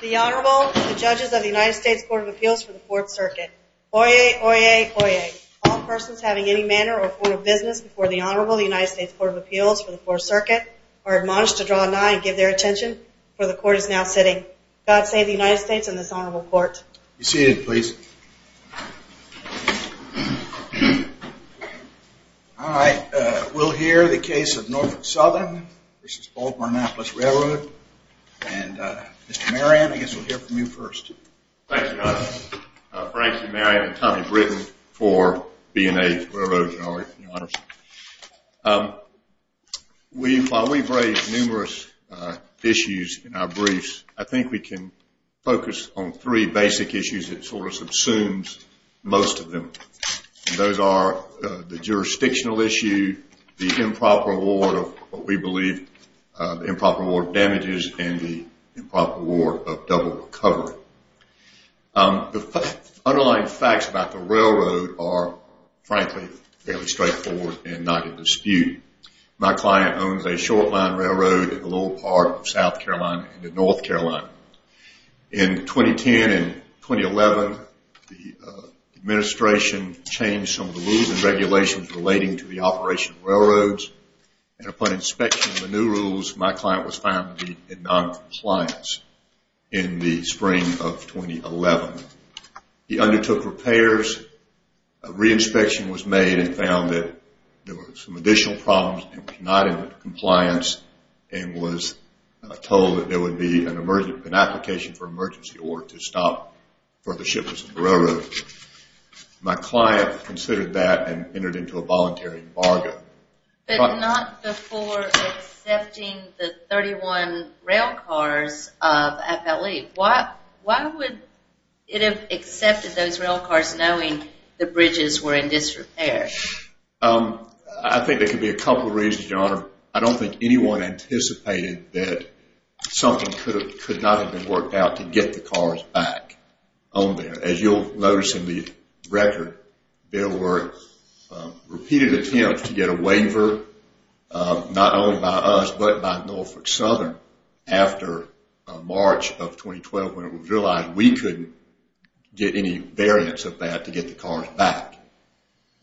The Honorable and the Judges of the United States Court of Appeals for the Fourth Circuit. Oyez! Oyez! Oyez! All persons having any manner or form of business before the Honorable and the United States Court of Appeals for the Fourth Circuit are admonished to draw nigh and give their attention, for the Court is now sitting. God save the United States and this Honorable Court. Be seated, please. All right, we'll hear the case of Norfolk Southern, this is Baltimore and Annapolis Railroad, and Mr. Marion, I guess we'll hear from you first. Thank you, Your Honor. Thank you, Marion and Tommy Britton for being a railroad, Your Honor. While we've raised numerous issues in our briefs, I think we can focus on three basic issues that sort of subsumes most of them. Those are the jurisdictional issue, the improper award of what we believe, the improper award of damages, and the improper award of double recovery. The underlying facts about the railroad are, frankly, fairly straightforward and not in dispute. My client owns a short line railroad in the lower part of South Carolina and in North Carolina. In 2010 and 2011, the administration changed some of the rules and regulations relating to the operation of railroads, and upon inspection of the new rules, my client was found to be in noncompliance in the spring of 2011. He undertook repairs, a re-inspection was made and found that there were some additional problems and he was not in compliance and was told that there would be an application for emergency order to stop further shipments of the railroad. My client considered that and entered into a voluntary bargain. But not before accepting the 31 railcars of FLE. Why would it have accepted those railcars knowing the bridges were in disrepair? I think there could be a couple of reasons, Your Honor. I don't think anyone anticipated that something could not have been worked out to get the cars back on there. As you'll notice in the record, there were repeated attempts to get a waiver, not only by us, but by Norfolk Southern, after March of 2012 when it was realized we couldn't get any variance of that to get the cars back.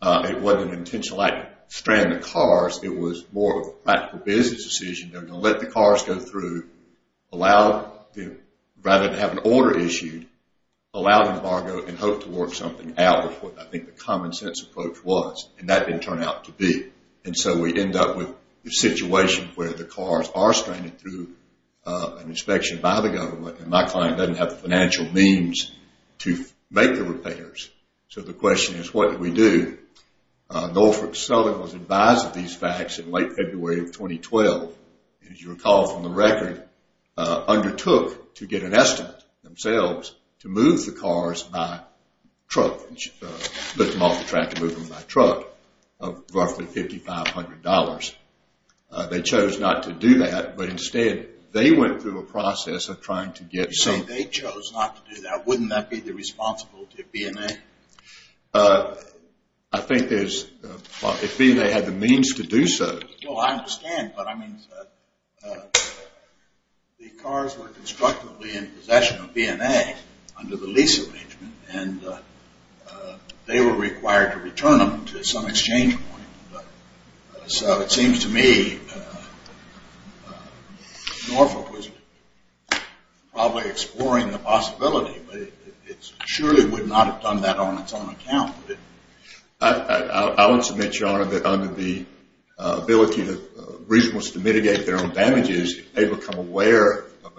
It wasn't an intentional act to strand the cars, it was more of a practical business decision to let the cars go through, rather than have an order issued, allow an embargo and hope to work something out, which I think the common sense approach was, and that didn't turn out to be. And so we end up with a situation where the cars are stranded through an inspection by the government and my client doesn't have the financial means to make the repairs. So the question is, what do we do? Norfolk Southern was advised of these facts in late February of 2012. As you recall from the record, undertook to get an estimate themselves to move the cars by truck, lift them off the track and move them by truck of roughly $5,500. They chose not to do that, but instead they went through a process of trying to get some... You say they chose not to do that. Wouldn't that be the responsibility of BNA? I think there's... if BNA had the means to do so. Well, I understand, but I mean, the cars were constructively in possession of BNA under the lease arrangement and they were required to return them to some exchange point. So it seems to me Norfolk was probably exploring the possibility, but it surely would not have done that on its own account. I would submit, Your Honor, that under the ability to... reason was to mitigate their own damages, they become aware of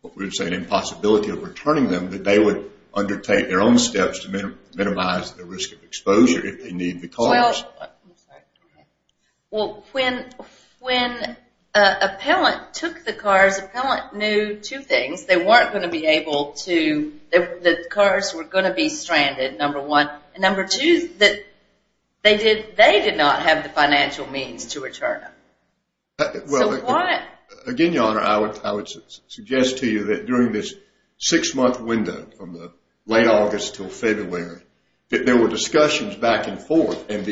what we would say an impossibility of returning them, that they would undertake their own steps to minimize the risk of exposure if they need the cars. Well, when appellant took the cars, appellant knew two things. They weren't going to be able to... the cars were going to be stranded, number one. And number two, that they did not have the financial means to return them. So why... Again, Your Honor, I would suggest to you that during this six-month window from the late August until February, that there were discussions back and forth and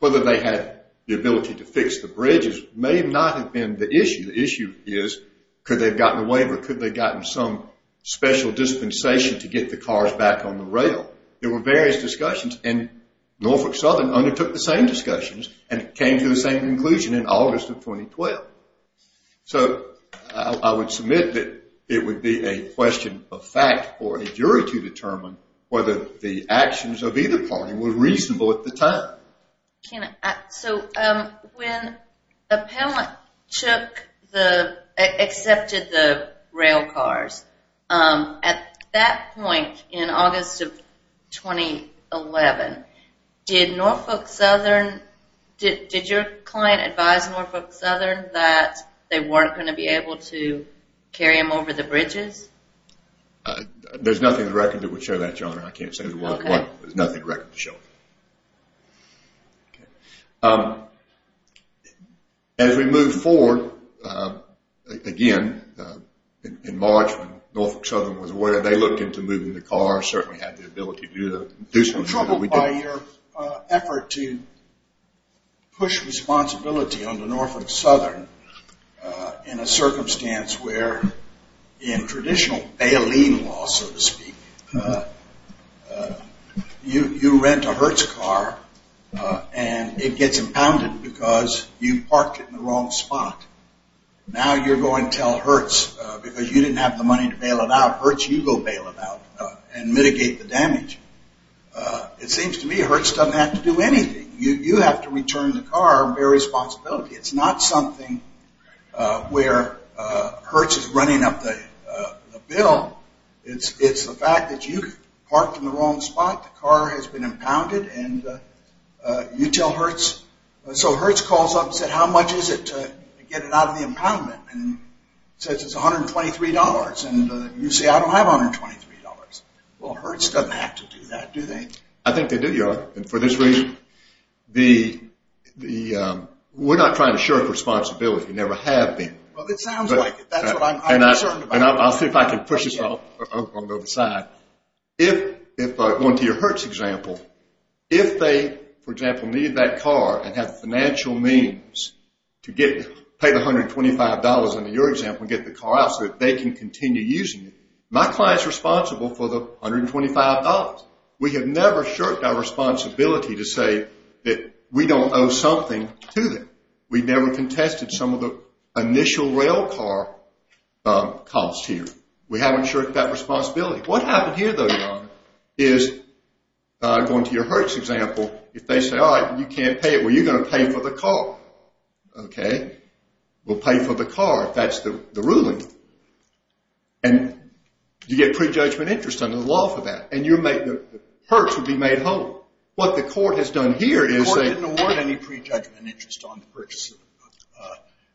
whether they had the ability to fix the bridges may not have been the issue. The issue is could they have gotten a waiver, could they have gotten some special dispensation to get the cars back on the rail. There were various discussions and Norfolk Southern undertook the same discussions and came to the same conclusion in August of 2012. So I would submit that it would be a question of fact for a jury to determine whether the actions of either party were reasonable at the time. So when appellant took the... accepted the rail cars, at that point in August of 2011, did Norfolk Southern... did your client advise Norfolk Southern that they weren't going to be able to carry them over the bridges? There's nothing in the record that would show that, Your Honor. I can't say what... there's nothing in the record to show that. Okay. As we move forward, again, in March when Norfolk Southern was aware, they looked into moving the cars, certainly had the ability to do so. I'm troubled by your effort to push responsibility onto Norfolk Southern in a circumstance where, in traditional bail-in law, so to speak, you rent a Hertz car and it gets impounded because you parked it in the wrong spot. Now you're going to tell Hertz, because you didn't have the money to bail it out, Hertz, you go bail it out and mitigate the damage. It seems to me Hertz doesn't have to do anything. You have to return the car and bear responsibility. It's not something where Hertz is running up the bill. It's the fact that you parked in the wrong spot, the car has been impounded, and you tell Hertz. So Hertz calls up and said, how much is it to get it out of the impoundment? And it says it's $123. And you say, I don't have $123. Well, Hertz doesn't have to do that, do they? I think they do, Your Honor. And for this reason, we're not trying to shirk responsibility. Never have been. Well, it sounds like it. That's what I'm uncertain about. And I'll see if I can push this off on the other side. If, going to your Hertz example, if they, for example, need that car and have financial means to pay the $125 under your example and get the car out so that they can continue using it, my client's responsible for the $125. We have never shirked our responsibility to say that we don't owe something to them. We've never contested some of the initial rail car costs here. We haven't shirked that responsibility. What happened here, though, Your Honor, is, going to your Hertz example, if they say, all right, you can't pay it. Well, you're going to pay for the car, okay? We'll pay for the car if that's the ruling. And you get prejudgment interest under the law for that. And the Hertz would be made whole. What the court has done here is they-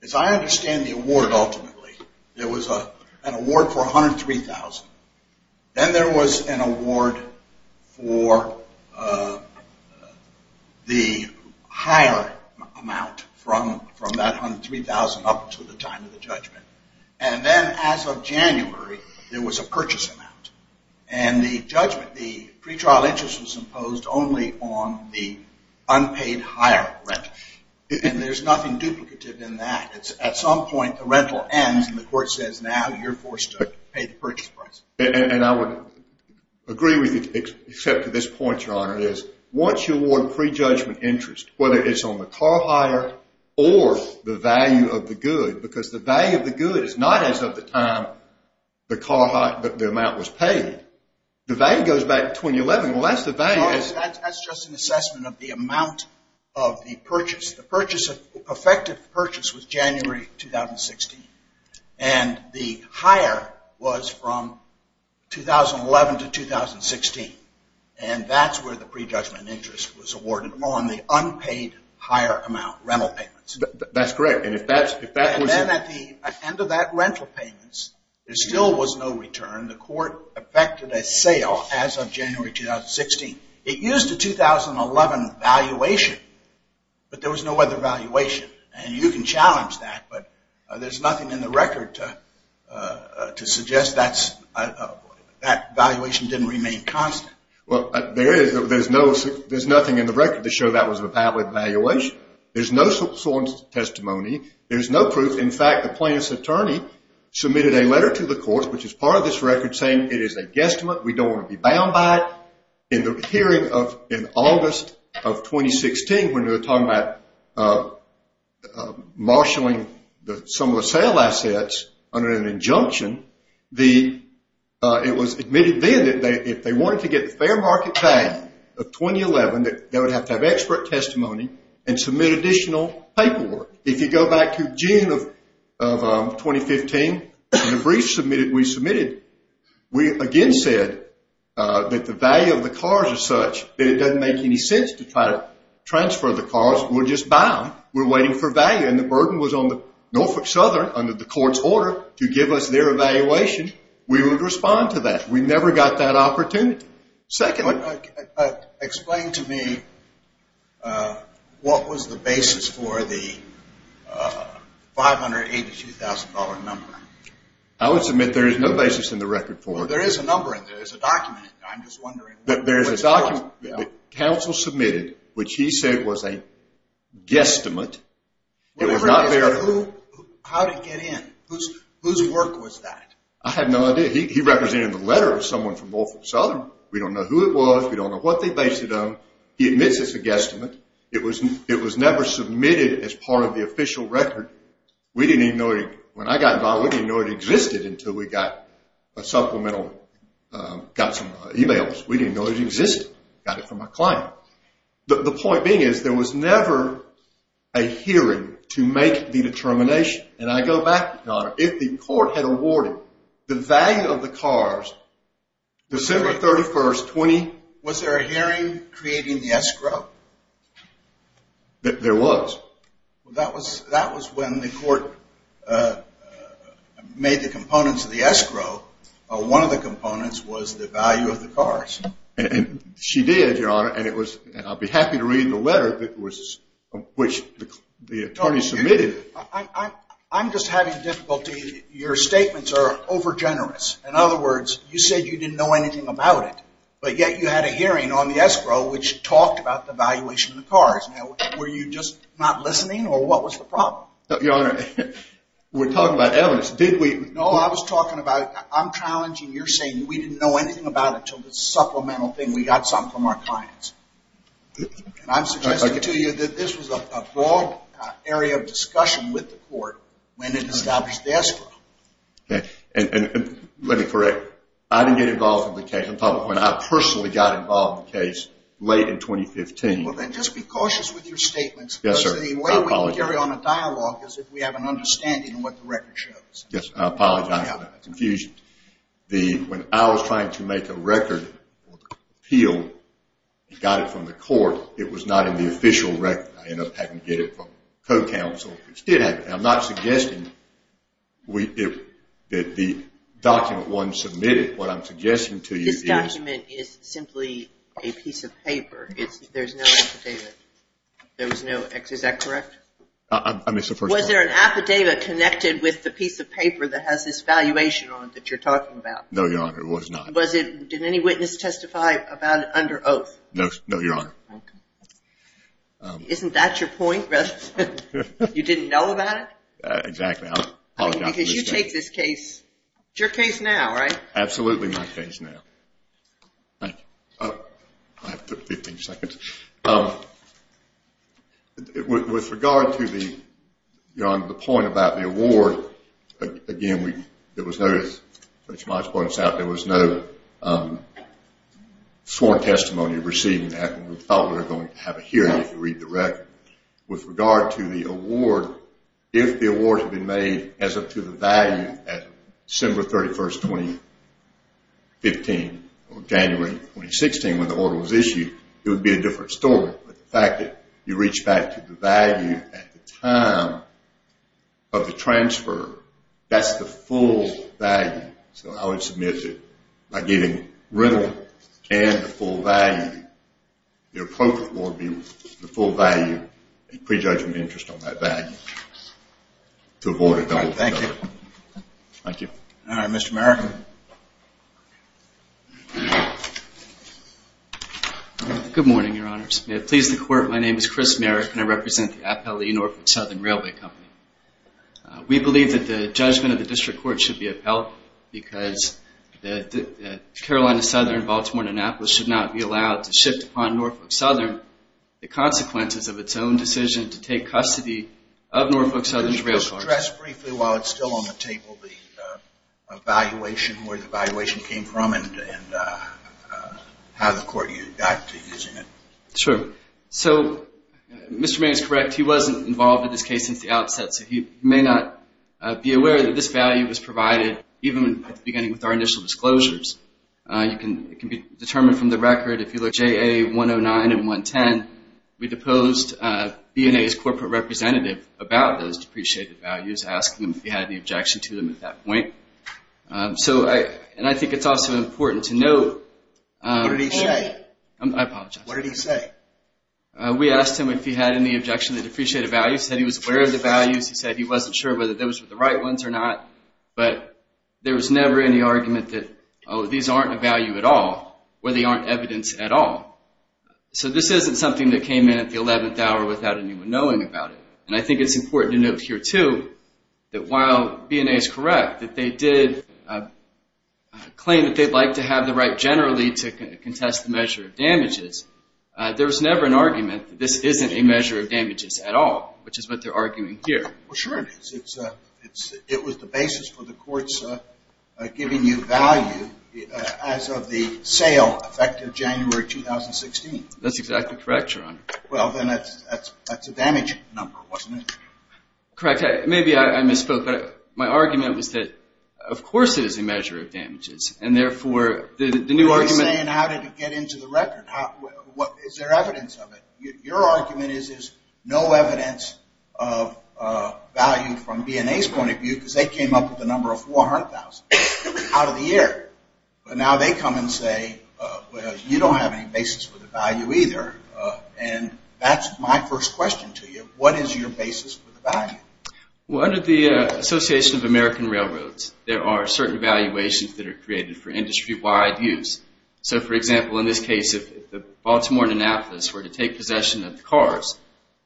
As I understand the award ultimately, there was an award for $103,000. Then there was an award for the higher amount from that $103,000 up to the time of the judgment. And then as of January, there was a purchase amount. And the judgment, the pretrial interest was imposed only on the unpaid higher rent. And there's nothing duplicative in that. At some point, the rental ends, and the court says, now you're forced to pay the purchase price. And I would agree with you, except to this point, Your Honor, is once you award prejudgment interest, whether it's on the car hire or the value of the good, because the value of the good is not as of the time the amount was paid. The value goes back to 2011. Well, that's the value. of the purchase. The purchase, effective purchase was January 2016. And the hire was from 2011 to 2016. And that's where the prejudgment interest was awarded, on the unpaid higher amount, rental payments. That's correct. And if that was- And then at the end of that rental payments, there still was no return. The court effected a sale as of January 2016. It used the 2011 valuation, but there was no other valuation. And you can challenge that, but there's nothing in the record to suggest that valuation didn't remain constant. Well, there is. There's nothing in the record to show that was a valid valuation. There's no sworn testimony. There's no proof. In fact, the plaintiff's attorney submitted a letter to the courts, which is part of this record, saying it is a guesstimate. We don't want to be bound by it. In the hearing in August of 2016, when they were talking about marshaling some of the sale assets under an injunction, it was admitted then that if they wanted to get the fair market pay of 2011, that they would have to have expert testimony and submit additional paperwork. If you go back to June of 2015, in the brief we submitted, we again said that the value of the cars is such that it doesn't make any sense to try to transfer the cars. We're just bound. We're waiting for value. And the burden was on Norfolk Southern under the court's order to give us their evaluation. We would respond to that. We never got that opportunity. Explain to me what was the basis for the $582,000 number. I would submit there is no basis in the record for it. There is a number in there. There's a document in there. I'm just wondering which part. There's a document that counsel submitted, which he said was a guesstimate. It was not there. How did it get in? Whose work was that? I have no idea. He represented the letter of someone from Norfolk Southern. We don't know who it was. We don't know what they based it on. He admits it's a guesstimate. It was never submitted as part of the official record. We didn't even know it. When I got involved, we didn't even know it existed until we got a supplemental, got some e-mails. We didn't know it existed. Got it from a client. The point being is there was never a hearing to make the determination. I go back, Your Honor. If the court had awarded the value of the cars, December 31st, 20- Was there a hearing creating the escrow? There was. That was when the court made the components of the escrow. One of the components was the value of the cars. She did, Your Honor. I'll be happy to read the letter which the attorney submitted. I'm just having difficulty. Your statements are over generous. In other words, you said you didn't know anything about it, but yet you had a hearing on the escrow which talked about the valuation of the cars. Now, were you just not listening or what was the problem? Your Honor, we're talking about evidence. No, I was talking about I'm challenging you're saying we didn't know anything about it until the supplemental thing we got something from our clients. I'm suggesting to you that this was a broad area of discussion with the court when it established the escrow. Let me correct. I didn't get involved in the case in public. I personally got involved in the case late in 2015. Then just be cautious with your statements. Yes, sir. The way we carry on a dialogue is if we have an understanding of what the record shows. Yes, I apologize for the confusion. When I was trying to make a record appeal, I got it from the court. It was not in the official record. I ended up having to get it from co-counsel. I'm not suggesting that the document wasn't submitted. What I'm suggesting to you is— This document is simply a piece of paper. There's no affidavit. Is that correct? I missed the first part. Was there an affidavit connected with the piece of paper that has this valuation on it that you're talking about? No, Your Honor. It was not. Did any witness testify about it under oath? No, Your Honor. Isn't that your point? You didn't know about it? Exactly. I apologize for the mistake. You take this case. It's your case now, right? Absolutely my case now. I have 15 seconds. With regard to the point about the award, again, there was no sworn testimony of receiving that. We thought we were going to have a hearing if you read the record. With regard to the award, if the award had been made as up to the value at December 31, 2015, or January 2016 when the order was issued, it would be a different story. But the fact that you reached back to the value at the time of the transfer, that's the full value. So I would submit that by giving riddle and the full value, the appropriate award would be the full value and prejudgment interest on that value to avoid a double feather. Thank you. Thank you. All right. Mr. Merrick? Good morning, Your Honors. May it please the Court, my name is Chris Merrick, and I represent the Appellee Norfolk Southern Railway Company. We believe that the judgment of the district court should be upheld because Carolina Southern, Baltimore, and Annapolis should not be allowed to shift upon Norfolk Southern the consequences of its own decision to take custody of Norfolk Southern's rail cars. Could you address briefly while it's still on the table the evaluation, where the evaluation came from, and how the Court got to using it? Sure. So Mr. Merrick is correct. He wasn't involved in this case since the outset, so he may not be aware that this value was provided even at the beginning with our initial disclosures. It can be determined from the record if you look at JA 109 and 110, we deposed B&A's corporate representative about those depreciated values, asking him if he had any objection to them at that point. And I think it's also important to note. What did he say? I apologize. What did he say? We asked him if he had any objection to the depreciated values. He said he was aware of the values. He said he wasn't sure whether those were the right ones or not. But there was never any argument that, oh, these aren't a value at all, or they aren't evidence at all. So this isn't something that came in at the 11th hour without anyone knowing about it. And I think it's important to note here, too, that while B&A is correct, that they did claim that they'd like to have the right generally to contest the measure of damages, there was never an argument that this isn't a measure of damages at all, which is what they're arguing here. Well, sure it is. It was the basis for the courts giving you value as of the sale effective January 2016. That's exactly correct, Your Honor. Well, then that's a damage number, wasn't it? Correct. Maybe I misspoke. My argument was that, of course, it is a measure of damages, and therefore the new argument — What you're saying, how did it get into the record? Is there evidence of it? Your argument is there's no evidence of value from B&A's point of view because they came up with a number of 400,000 out of the air. But now they come and say, well, you don't have any basis for the value either. And that's my first question to you. What is your basis for the value? Well, under the Association of American Railroads, there are certain valuations that are created for industry-wide use. So, for example, in this case, if Baltimore and Annapolis were to take possession of the cars,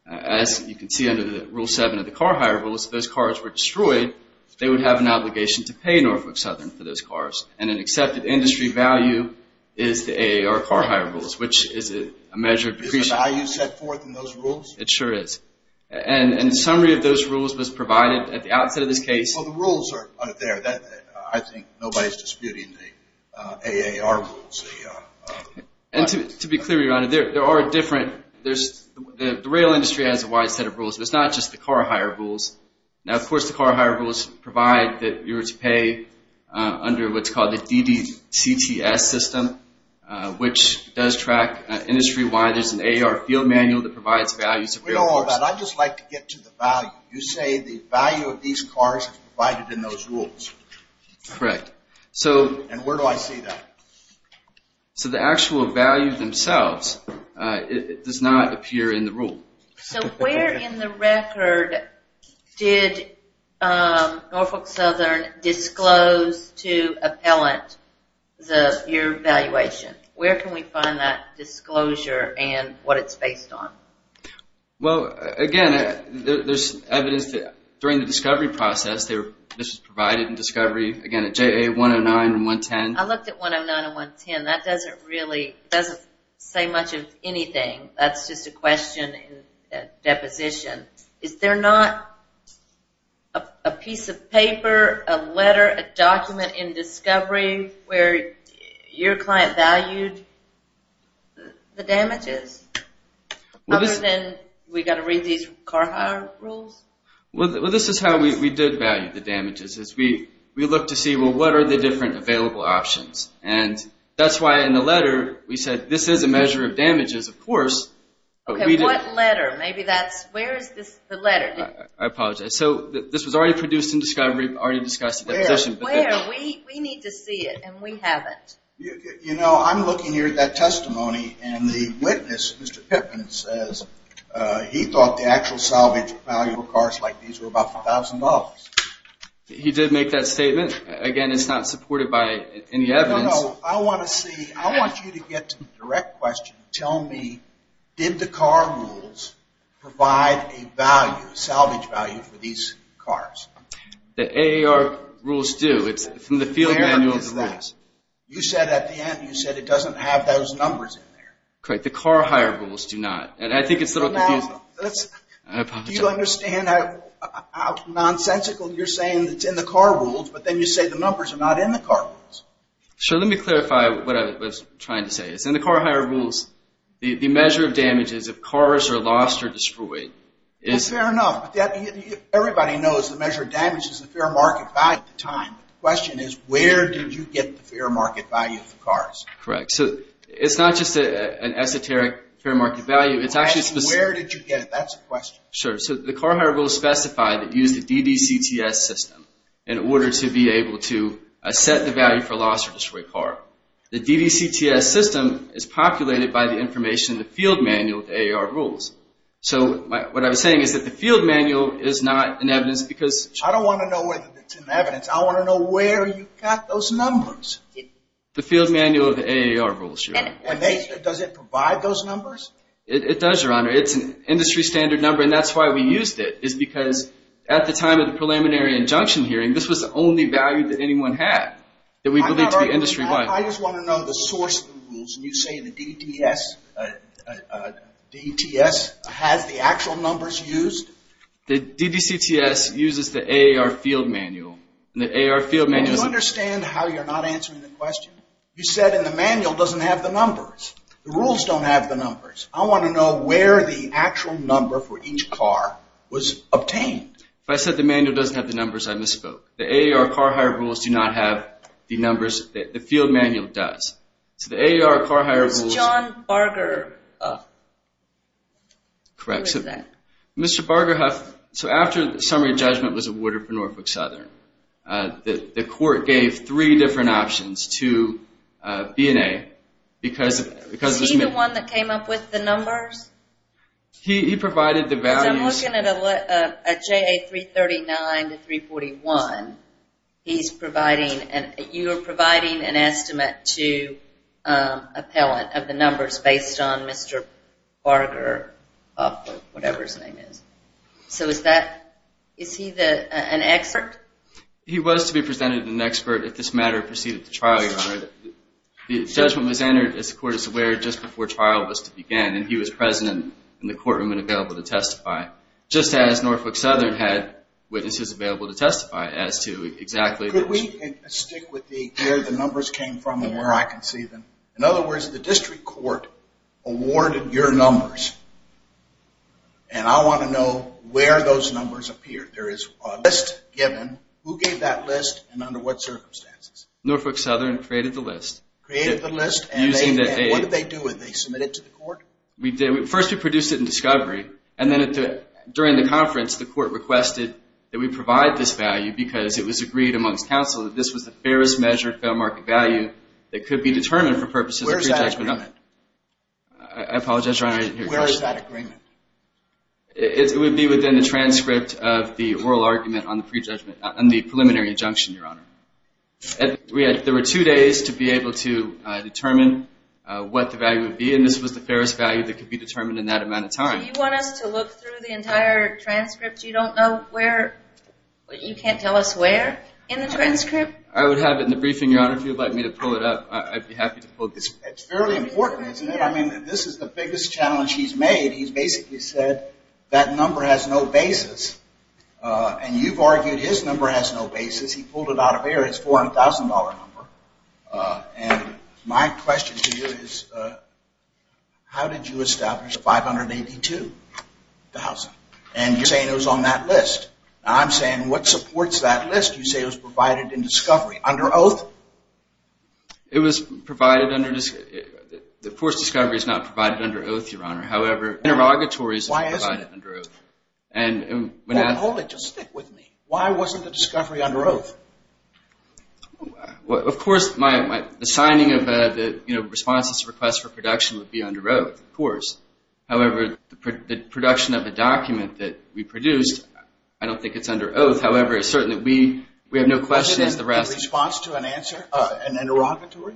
as you can see under Rule 7 of the car hire rules, if those cars were destroyed, they would have an obligation to pay Norfolk Southern for those cars. And an accepted industry value is the AAR car hire rules, which is a measure of depreciation. Is the value set forth in those rules? It sure is. And a summary of those rules was provided at the outset of this case. Well, the rules are there. I think nobody is disputing the AAR rules. And to be clear, Your Honor, there are different – the rail industry has a wide set of rules. It's not just the car hire rules. Now, of course, the car hire rules provide that you're to pay under what's called the DDCTS system, which does track industry-wide. There's an AAR field manual that provides values. We know all about it. I'd just like to get to the value. You say the value of these cars is provided in those rules. Correct. And where do I see that? So the actual value themselves does not appear in the rule. So where in the record did Norfolk Southern disclose to appellant your valuation? Where can we find that disclosure and what it's based on? Well, again, there's evidence that during the discovery process, this was provided in discovery, again, at JA 109 and 110. I looked at 109 and 110. That doesn't really say much of anything. That's just a question in deposition. Is there not a piece of paper, a letter, a document in discovery where your client valued the damages? Other than we've got to read these car hire rules? Well, this is how we did value the damages. We looked to see, well, what are the different available options? And that's why in the letter we said this is a measure of damages, of course. Okay, what letter? Maybe that's – where is the letter? I apologize. So this was already produced in discovery, already discussed in deposition. Where? We need to see it, and we haven't. You know, I'm looking here at that testimony, and the witness, Mr. Pippin, says he thought the actual salvage of valuable cars like these were about $1,000. He did make that statement. Again, it's not supported by any evidence. No, no. I want to see – I want you to get to the direct question. Tell me, did the car rules provide a value, a salvage value for these cars? The AAR rules do. It's from the field manuals. You said at the end, you said it doesn't have those numbers in there. Correct. The car hire rules do not. And I think it's a little confusing. Do you understand how nonsensical you're saying it's in the car rules, but then you say the numbers are not in the car rules? Sure. Let me clarify what I was trying to say. It's in the car hire rules. The measure of damage is if cars are lost or destroyed. Well, fair enough. Everybody knows the measure of damage is the fair market value at the time. The question is, where did you get the fair market value of the cars? Correct. So it's not just an esoteric fair market value. It's actually specific. Where did you get it? That's the question. Sure. So the car hire rules specify that you use the DDCTS system in order to be able to set the value for loss or destroy a car. The DDCTS system is populated by the information in the field manual of AAR rules. So what I'm saying is that the field manual is not an evidence because – I don't want to know whether it's an evidence. I want to know where you got those numbers. The field manual of the AAR rules, Your Honor. And does it provide those numbers? It does, Your Honor. It's an industry standard number, and that's why we used it, is because at the time of the preliminary injunction hearing, this was the only value that anyone had that we believed to be industry-wide. I just want to know the source of the rules. You say the DDCTS has the actual numbers used? The DDCTS uses the AAR field manual, and the AAR field manual is – Do you understand how you're not answering the question? You said in the manual it doesn't have the numbers. The rules don't have the numbers. I want to know where the actual number for each car was obtained. If I said the manual doesn't have the numbers, I misspoke. The AAR car hire rules do not have the numbers. The field manual does. So the AAR car hire rules – John Barger. Correct. Mr. Barger – so after the summary judgment was awarded for Norfolk Southern, the court gave three different options to B&A because – Is he the one that came up with the numbers? He provided the values. I'm looking at JA339 to 341. He's providing – You are providing an estimate to appellant of the numbers based on Mr. Barger, whatever his name is. So is that – is he an expert? He was to be presented as an expert if this matter proceeded to trial, Your Honor. The judgment was entered, as the court is aware, just before trial was to begin, and he was present in the courtroom and available to testify, just as Norfolk Southern had witnesses available to testify as to exactly – Could we stick with where the numbers came from and where I can see them? In other words, the district court awarded your numbers, and I want to know where those numbers appeared. There is a list given. Who gave that list and under what circumstances? Norfolk Southern created the list. Created the list, and what did they do? Did they submit it to the court? First we produced it in discovery, and then during the conference the court requested that we provide this value because it was agreed amongst counsel that this was the fairest measured fair market value that could be determined for purposes of prejudgment. Where is that agreement? I apologize, Your Honor, I didn't hear your question. Where is that agreement? It would be within the transcript of the oral argument on the preliminary injunction, Your Honor. There were two days to be able to determine what the value would be, and this was the fairest value that could be determined in that amount of time. Do you want us to look through the entire transcript? You don't know where? You can't tell us where in the transcript? I would have it in the briefing, Your Honor. If you would like me to pull it up, I'd be happy to pull it. It's fairly important, isn't it? I mean, this is the biggest challenge he's made. He's basically said that number has no basis, and you've argued his number has no basis. He pulled it out of air. It's a $400,000 number, and my question to you is how did you establish $582,000? And you're saying it was on that list. Now I'm saying what supports that list? You say it was provided in discovery. Under oath? It was provided under discovery. Of course, discovery is not provided under oath, Your Honor. However, interrogatories are provided under oath. Why isn't it? Hold it. Just stick with me. Why wasn't the discovery under oath? Of course, the signing of the response to the request for production would be under oath, of course. However, the production of the document that we produced, I don't think it's under oath. However, it's certain that we have no questions. The response to an interrogatory?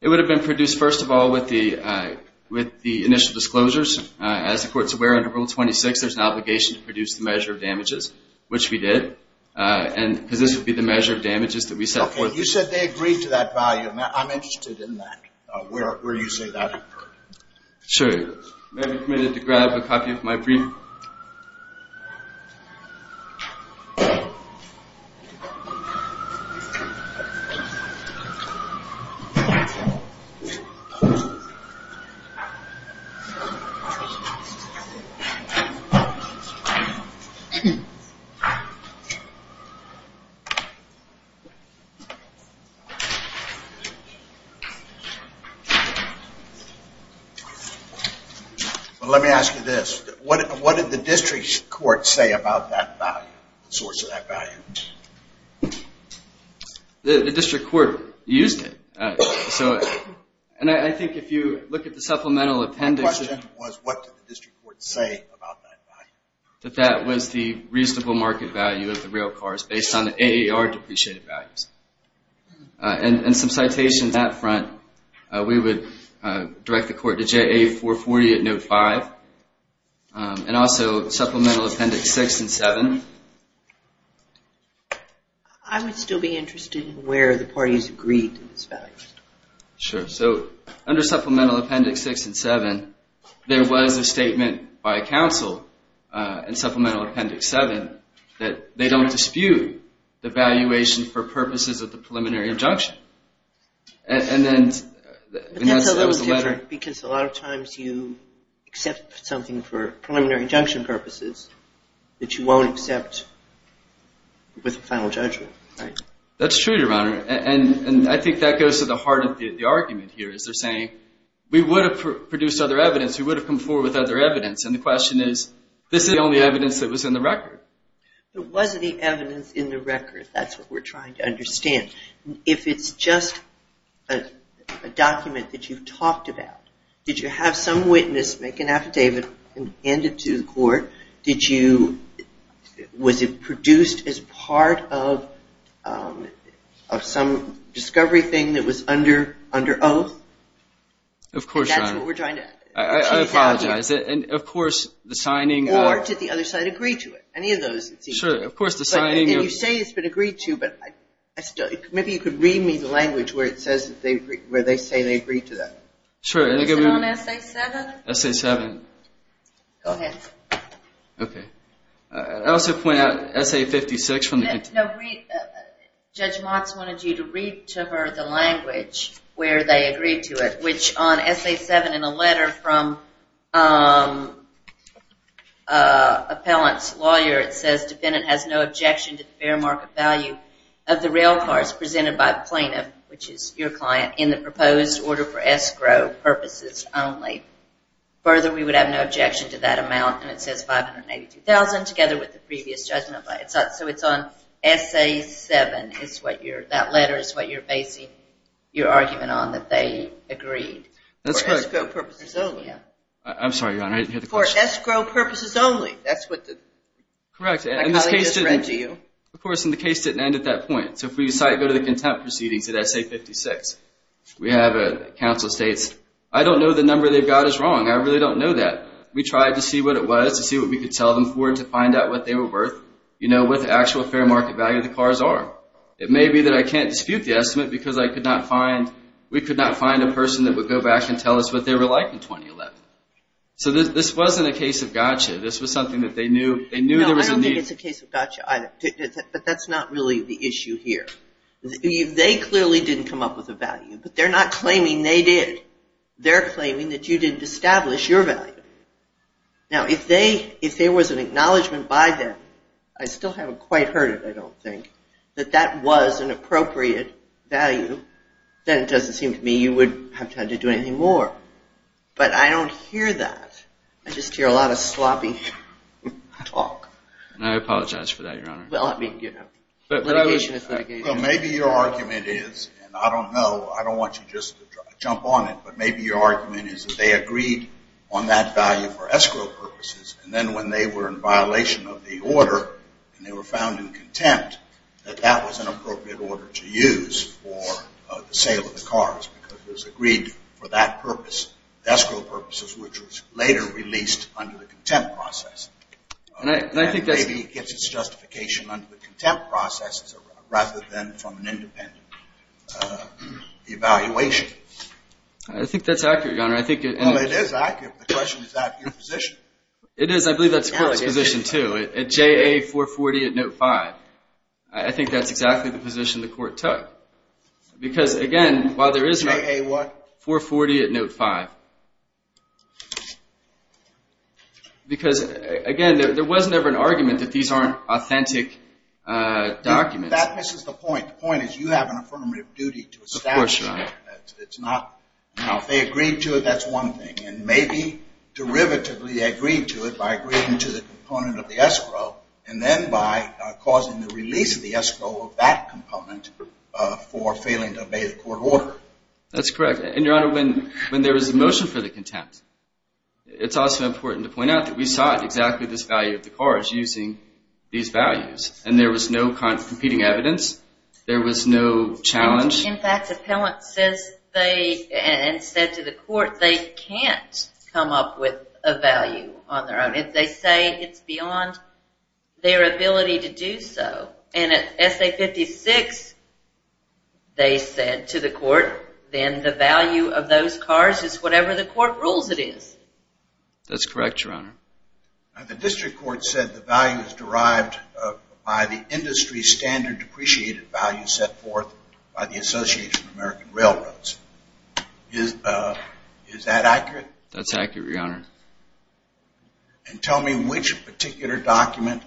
It would have been produced, first of all, with the initial disclosures. As the Court's aware, under Rule 26, there's an obligation to produce the measure of damages, which we did, because this would be the measure of damages that we set forth. Okay. You said they agreed to that value. I'm interested in that, where you say that occurred. Sure. May I be permitted to grab a copy of my brief? Well, let me ask you this. What did the district court say about that value, the source of that value? The district court used it. And I think if you look at the supplemental appendix. My question was, what did the district court say about that value? That that was the reasonable market value of the railcars based on the AAR depreciated values. And some citations that front. We would direct the court to JA 440 at note 5. And also supplemental appendix 6 and 7. I would still be interested in where the parties agreed to this value. Sure. So under supplemental appendix 6 and 7, there was a statement by counsel in supplemental appendix 7 that they don't dispute the valuation for purposes of the preliminary injunction. And then that was the letter. But that's a little different because a lot of times you accept something for preliminary injunction purposes that you won't accept with a final judgment, right? That's true, Your Honor. And I think that goes to the heart of the argument here is they're saying we would have produced other evidence. We would have come forward with other evidence. And the question is, this is the only evidence that was in the record. It was the evidence in the record. That's what we're trying to understand. If it's just a document that you've talked about, did you have some witness make an affidavit and hand it to the court? Was it produced as part of some discovery thing that was under oath? Of course, Your Honor. And that's what we're trying to achieve. I apologize. And, of course, the signing. Or did the other side agree to it? Any of those? Sure. Of course, the signing. And you say it's been agreed to, but maybe you could read me the language where they say they agreed to that. Sure. Is it on Essay 7? Essay 7. Go ahead. Okay. I also point out Essay 56. Judge Motz wanted you to read to her the language where they agreed to it, which on Essay 7 in a letter from an appellant's lawyer, it says, defendant has no objection to the fair market value of the rail cars presented by the plaintiff, which is your client, in the proposed order for escrow purposes only. Further, we would have no objection to that amount. And it says $582,000 together with the previous judgment. So it's on Essay 7. That letter is what you're basing your argument on, that they agreed. That's correct. For escrow purposes only. I'm sorry, Your Honor. I didn't hear the question. For escrow purposes only. That's what the colleague just read to you. Correct. Of course, and the case didn't end at that point. So if we go to the contempt proceedings at Essay 56, we have a counsel states, I don't know the number they've got is wrong. I really don't know that. We tried to see what it was, to see what we could tell them for it, to find out what they were worth, you know, what the actual fair market value of the cars are. It may be that I can't dispute the estimate because I could not find, we could not find a person that would go back and tell us what they were like in 2011. So this wasn't a case of gotcha. This was something that they knew there was a need. No, I don't think it's a case of gotcha either. But that's not really the issue here. They clearly didn't come up with a value, but they're not claiming they did. They're claiming that you didn't establish your value. Now, if there was an acknowledgment by them, I still haven't quite heard it, I don't think, that that was an appropriate value, then it doesn't seem to me you would have time to do anything more. But I don't hear that. I just hear a lot of sloppy talk. And I apologize for that, Your Honor. Well, I mean, you know, litigation is litigation. Well, maybe your argument is, and I don't know, I don't want you just to jump on it, but maybe your argument is that they agreed on that value for escrow purposes, and then when they were in violation of the order and they were found in contempt, that that was an appropriate order to use for the sale of the cars because it was agreed for that purpose, escrow purposes, which was later released under the contempt process. And maybe it gets its justification under the contempt process rather than from an independent evaluation. I think that's accurate, Your Honor. Well, it is accurate. The question is, is that your position? It is. I believe that's the Court's position, too. At JA 440 at Note 5, I think that's exactly the position the Court took. Because, again, while there is no— JA what? 440 at Note 5. Because, again, there was never an argument that these aren't authentic documents. That misses the point. The point is you have an affirmative duty to establish that. Of course, Your Honor. It's not—if they agreed to it, that's one thing. And maybe derivatively they agreed to it by agreeing to the component of the escrow and then by causing the release of the escrow of that component for failing to obey the court order. That's correct. And, Your Honor, when there was a motion for the contempt, it's also important to point out that we sought exactly this value of the cars using these values. And there was no competing evidence. There was no challenge. In fact, the appellant says they—and said to the court they can't come up with a value on their own. If they say it's beyond their ability to do so. And at SA 56, they said to the court, then the value of those cars is whatever the court rules it is. That's correct, Your Honor. The district court said the value is derived by the industry standard depreciated value set forth by the Association of American Railroads. Is that accurate? That's accurate, Your Honor. And tell me which particular document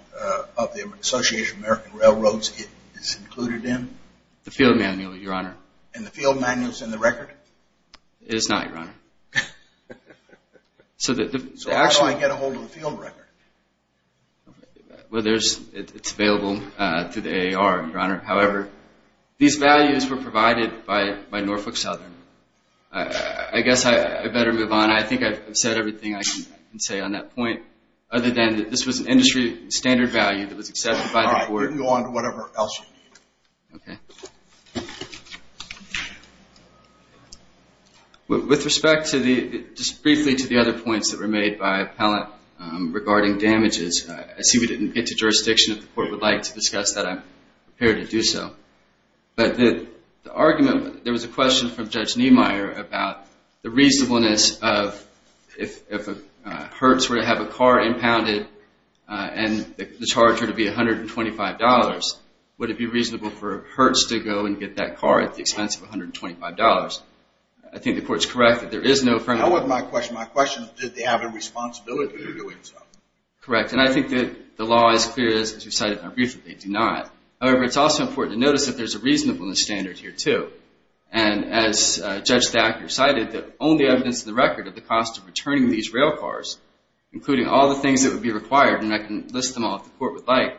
of the Association of American Railroads it's included in. The field manual, Your Honor. And the field manual is in the record? It is not, Your Honor. So how do I get a hold of the field record? Well, it's available through the AAR, Your Honor. However, these values were provided by Norfolk Southern. I guess I better move on. I think I've said everything I can say on that point, other than that this was an industry standard value that was accepted by the court. All right. Move on to whatever else you need. Okay. With respect to the—just briefly to the other points that were made by the appellant regarding damages, I see we didn't get to jurisdiction if the court would like to discuss that. I'm prepared to do so. But the argument—there was a question from Judge Niemeyer about the reasonableness of— if Hertz were to have a car impounded and the charge were to be $125, would it be reasonable for Hertz to go and get that car at the expense of $125? I think the court's correct that there is no— That wasn't my question. My question is did they have a responsibility for doing so? Correct. And I think that the law is clear, as you cited in our brief, that they do not. However, it's also important to notice that there's a reasonableness standard here, too. And as Judge Thacker cited, the only evidence in the record of the cost of returning these railcars, including all the things that would be required, and I can list them all if the court would like,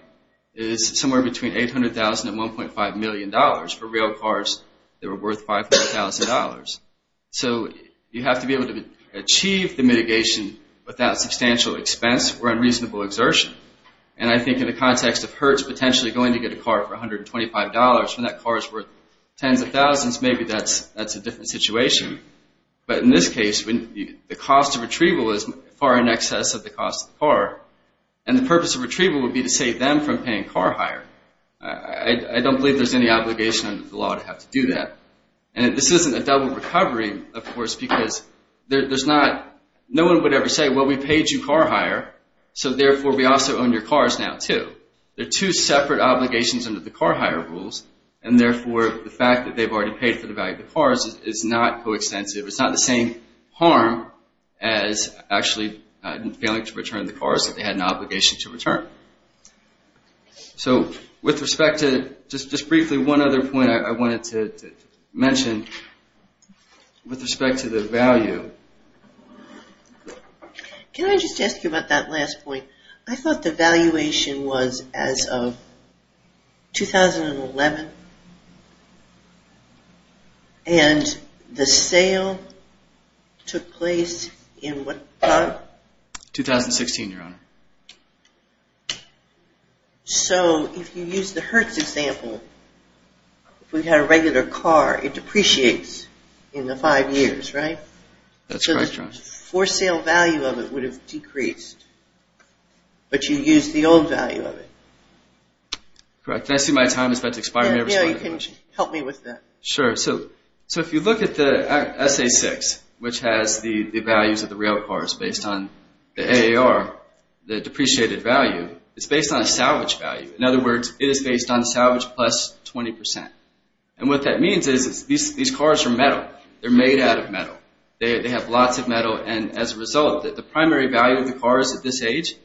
is somewhere between $800,000 and $1.5 million for railcars that were worth $500,000. So you have to be able to achieve the mitigation without substantial expense or unreasonable exertion. And I think in the context of Hertz potentially going to get a car for $125, when that car is worth tens of thousands, maybe that's a different situation. But in this case, the cost of retrieval is far in excess of the cost of the car, and the purpose of retrieval would be to save them from paying car hire. I don't believe there's any obligation under the law to have to do that. And this isn't a double recovery, of course, because there's not— They're two separate obligations under the car hire rules, and therefore the fact that they've already paid for the value of the cars is not coextensive. It's not the same harm as actually failing to return the cars that they had an obligation to return. So with respect to—just briefly, one other point I wanted to mention with respect to the value. Can I just ask you about that last point? I thought the valuation was as of 2011, and the sale took place in what time? 2016, Your Honor. So if you use the Hertz example, if we had a regular car, it depreciates in the five years, right? That's correct, Your Honor. The for-sale value of it would have decreased, but you used the old value of it. Correct. Can I see my time? It's about to expire. You can help me with that. Sure. So if you look at the SA6, which has the values of the real cars based on the AAR, the depreciated value, it's based on a salvage value. In other words, it is based on salvage plus 20%. And what that means is these cars are metal. They're made out of metal. They have lots of metal. And as a result, the primary value of the cars at this age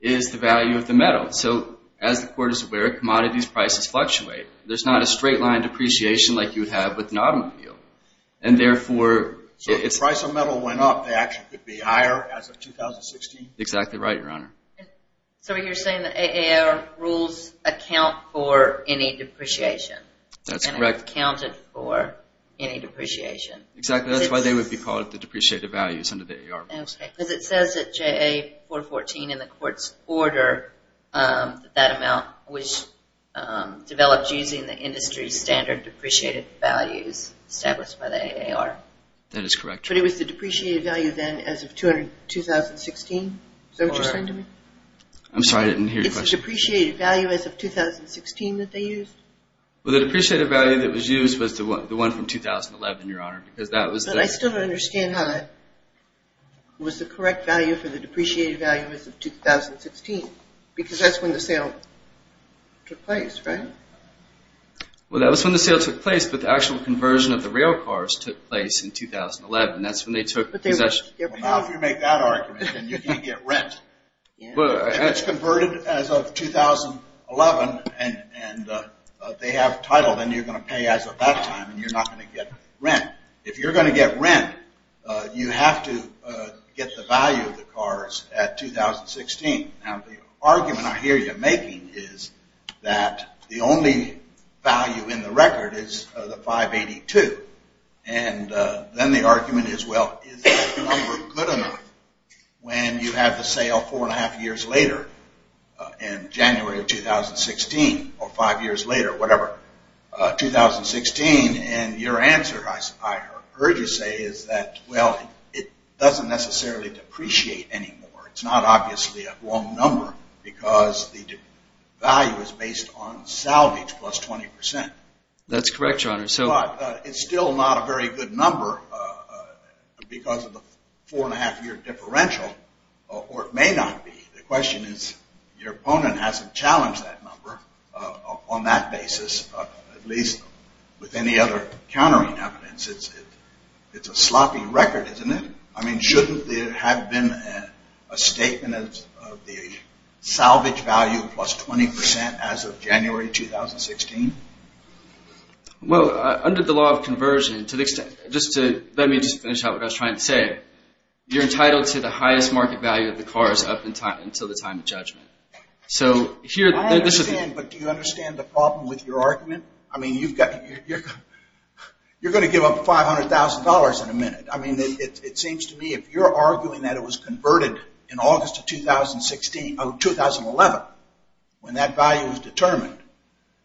is the value of the metal. So as the Court is aware, commodities prices fluctuate. There's not a straight-line depreciation like you would have with an automobile. And therefore— So if the price of metal went up, the action could be higher as of 2016? Exactly right, Your Honor. So you're saying the AAR rules account for any depreciation? That's correct. And it accounted for any depreciation? Exactly. That's why they would be called the depreciated values under the AAR rules. Okay. Because it says at JA414 in the Court's order that that amount was developed using the industry standard depreciated values established by the AAR. That is correct. But it was the depreciated value then as of 2016? Is that what you're saying to me? I'm sorry. I didn't hear your question. It's the depreciated value as of 2016 that they used? Well, the depreciated value that was used was the one from 2011, Your Honor, because that was the— But I still don't understand how that was the correct value for the depreciated value as of 2016. Because that's when the sale took place, right? Well, that was when the sale took place, but the actual conversion of the rail cars took place in 2011. That's when they took possession. Well, now if you make that argument, then you can't get rent. If it's converted as of 2011 and they have title, then you're going to pay as of that time and you're not going to get rent. If you're going to get rent, you have to get the value of the cars at 2016. Now, the argument I hear you making is that the only value in the record is the 582. And then the argument is, well, is that number good enough when you have the sale four and a half years later in January of 2016 or five years later, whatever, 2016? And your answer, I heard you say, is that, well, it doesn't necessarily depreciate anymore. It's not obviously a wrong number because the value is based on salvage plus 20%. That's correct, Your Honor. But it's still not a very good number because of the four and a half year differential, or it may not be. The question is, your opponent hasn't challenged that number on that basis, at least with any other countering evidence. It's a sloppy record, isn't it? I mean, shouldn't there have been a statement of the salvage value plus 20% as of January 2016? Well, under the law of conversion, to the extent, just to, let me just finish out what I was trying to say, you're entitled to the highest market value of the cars up until the time of judgment. So here, this is... I understand, but do you understand the problem with your argument? I mean, you've got, you're going to give up $500,000 in a minute. I mean, it seems to me, if you're arguing that it was converted in August of 2016, of 2011, when that value was determined,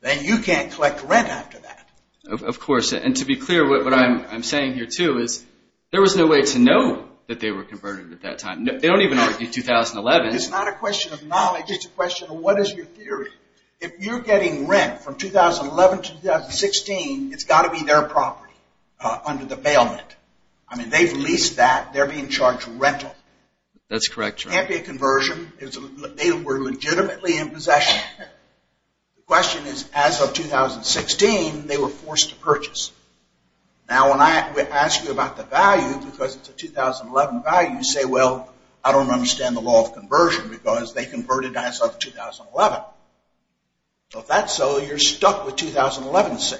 then you can't collect rent after that. Of course. And to be clear, what I'm saying here, too, is there was no way to know that they were converted at that time. They don't even argue 2011. It's not a question of knowledge. It's a question of what is your theory. If you're getting rent from 2011 to 2016, it's got to be their property under the bailment. I mean, they've leased that. They're being charged rental. That's correct, Your Honor. It can't be a conversion. They were legitimately in possession. The question is, as of 2016, they were forced to purchase. Now, when I ask you about the value, because it's a 2011 value, you say, well, I don't understand the law of conversion because they converted as of 2011. So if that's so, you're stuck with 2011 sale.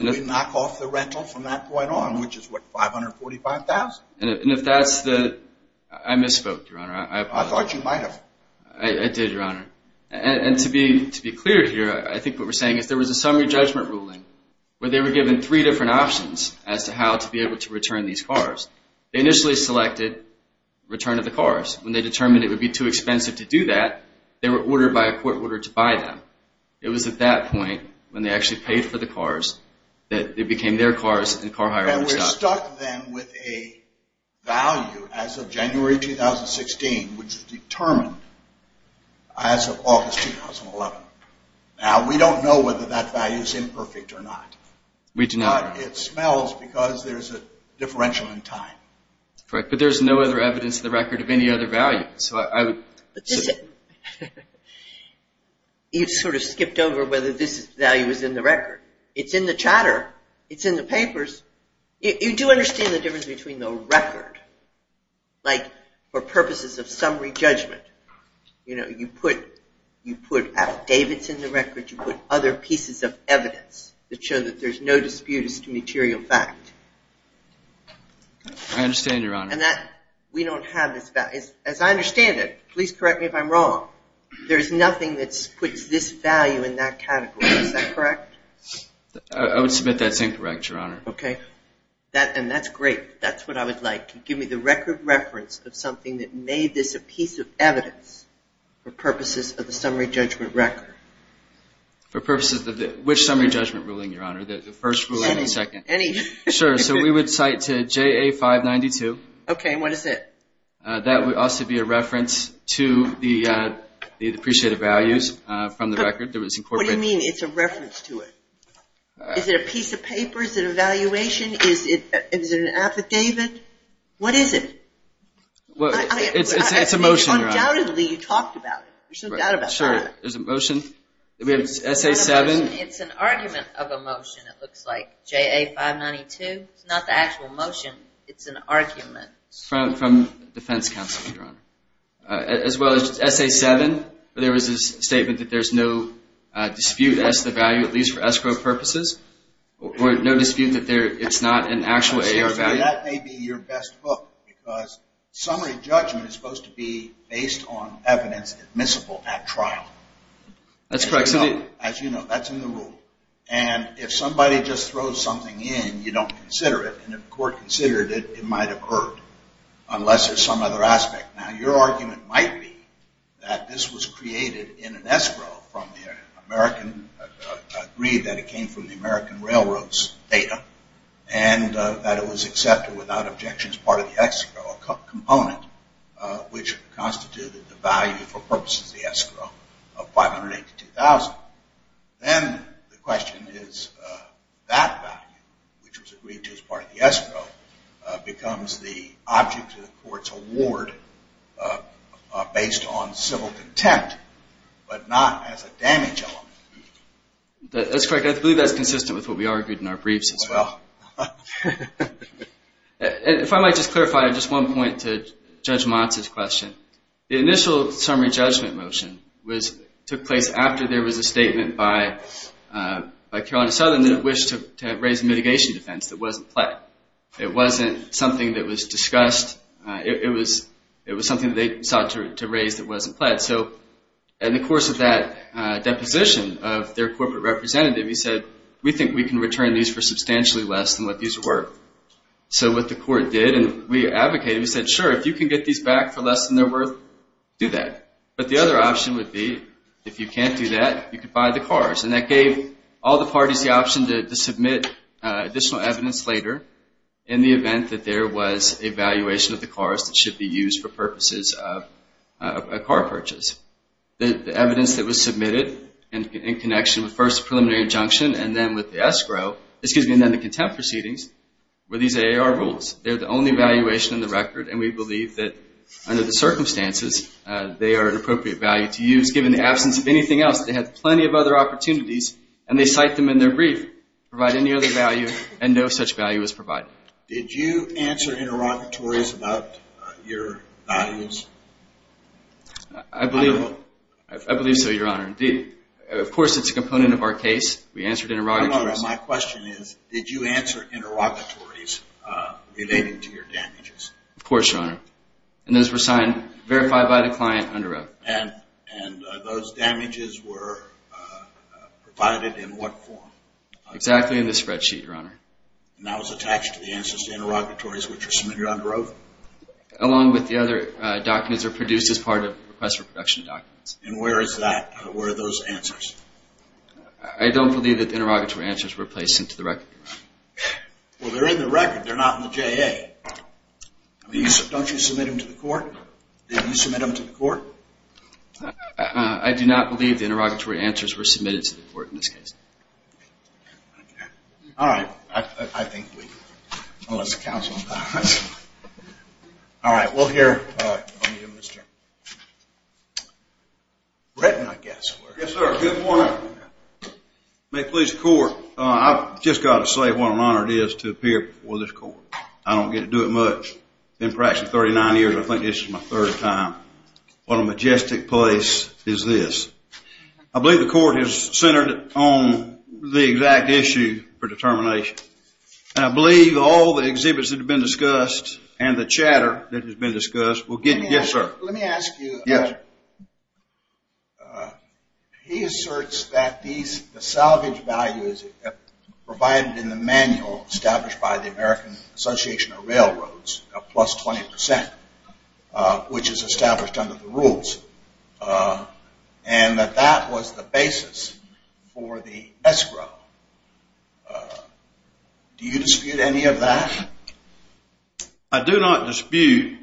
We knock off the rental from that point on, which is, what, $545,000? And if that's the – I misspoke, Your Honor. I thought you might have. I did, Your Honor. And to be clear here, I think what we're saying is there was a summary judgment ruling where they were given three different options as to how to be able to return these cars. They initially selected return of the cars. When they determined it would be too expensive to do that, they were ordered by a court order to buy them. It was at that point, when they actually paid for the cars, that it became their cars and car hiring was stopped. And we're stuck then with a value as of January 2016, which is determined as of August 2011. Now, we don't know whether that value is imperfect or not. We do not. But it smells because there's a differential in time. Correct. But there's no other evidence in the record of any other value. You've sort of skipped over whether this value is in the record. It's in the chatter. It's in the papers. You do understand the difference between the record, like, for purposes of summary judgment. You know, you put F. Davidson in the record. You put other pieces of evidence that show that there's no dispute as to material fact. I understand, Your Honor. And that we don't have this value. As I understand it, please correct me if I'm wrong, there's nothing that puts this value in that category. Is that correct? I would submit that's incorrect, Your Honor. Okay. And that's great. That's what I would like. Give me the record reference of something that made this a piece of evidence for purposes of the summary judgment record. For purposes of which summary judgment ruling, Your Honor? The first ruling or the second? Any. Sure. So we would cite to JA-592. Okay. And what is it? That would also be a reference to the depreciated values from the record. What do you mean it's a reference to it? Is it a piece of paper? Is it an evaluation? Is it an affidavit? What is it? It's a motion, Your Honor. Undoubtedly, you talked about it. There's no doubt about that. Sure. There's a motion. We have SA-7. It's an argument of a motion, it looks like. JA-592. It's not the actual motion. It's an argument. It's from defense counsel, Your Honor. As well as SA-7, there was a statement that there's no dispute as to the value, at least for escrow purposes, or no dispute that it's not an actual A or value. That may be your best hook because summary judgment is supposed to be based on evidence admissible at trial. That's correct. As you know, that's in the rule. And if somebody just throws something in, you don't consider it. And if the court considered it, it might have erred, unless there's some other aspect. Now, your argument might be that this was created in an escrow from the American, agreed that it came from the American Railroad's data, and that it was accepted without objection as part of the escrow component, which constituted the value for purposes of the escrow of 582,000. Then the question is that value, which was agreed to as part of the escrow, becomes the object of the court's award based on civil contempt, but not as a damage element. That's correct. I believe that's consistent with what we argued in our briefs as well. If I might just clarify, just one point to Judge Motz's question. The initial summary judgment motion took place after there was a statement by Carolina Southern that it wished to raise a mitigation defense that wasn't pled. It wasn't something that was discussed. It was something that they sought to raise that wasn't pled. So in the course of that deposition of their corporate representative, he said, we think we can return these for substantially less than what these are worth. So what the court did, and we advocated, we said, sure, if you can get these back for less than they're worth, do that. But the other option would be, if you can't do that, you could buy the cars. And that gave all the parties the option to submit additional evidence later in the event that there was a valuation of the cars that should be used for purposes of a car purchase. The evidence that was submitted in connection with first the preliminary injunction and then with the contempt proceedings were these AAR rules. They're the only valuation in the record, and we believe that under the circumstances they are an appropriate value to use. They had plenty of other opportunities, and they cite them in their brief, provide any other value, and no such value was provided. Did you answer interrogatories about your values? I believe so, Your Honor. Indeed. Of course, it's a component of our case. We answered interrogatories. My question is, did you answer interrogatories relating to your damages? Of course, Your Honor. And those were signed, verified by the client under oath. And those damages were provided in what form? Exactly in the spreadsheet, Your Honor. And that was attached to the answers to interrogatories which were submitted under oath? Along with the other documents that were produced as part of requests for production documents. And where is that? Where are those answers? I don't believe that the interrogatory answers were placed into the record. Well, they're in the record. They're not in the JA. Don't you submit them to the court? Did you submit them to the court? I do not believe the interrogatory answers were submitted to the court in this case. Okay. All right. I think we've lost counsel on that one. All right. We'll hear from you, Mr. Britton, I guess. Yes, sir. Good morning. May it please the court. I've just got to say what an honor it is to appear before this court. I don't get to do it much. I've been practicing for 39 years. I think this is my third time. What a majestic place is this. I believe the court is centered on the exact issue for determination. And I believe all the exhibits that have been discussed and the chatter that has been discussed will get you. Yes, sir. Let me ask you. Yes, sir. He asserts that the salvage value is provided in the manual established by the American Association of Railroads, a plus 20 percent, which is established under the rules, and that that was the basis for the escrow. Do you dispute any of that? I do not dispute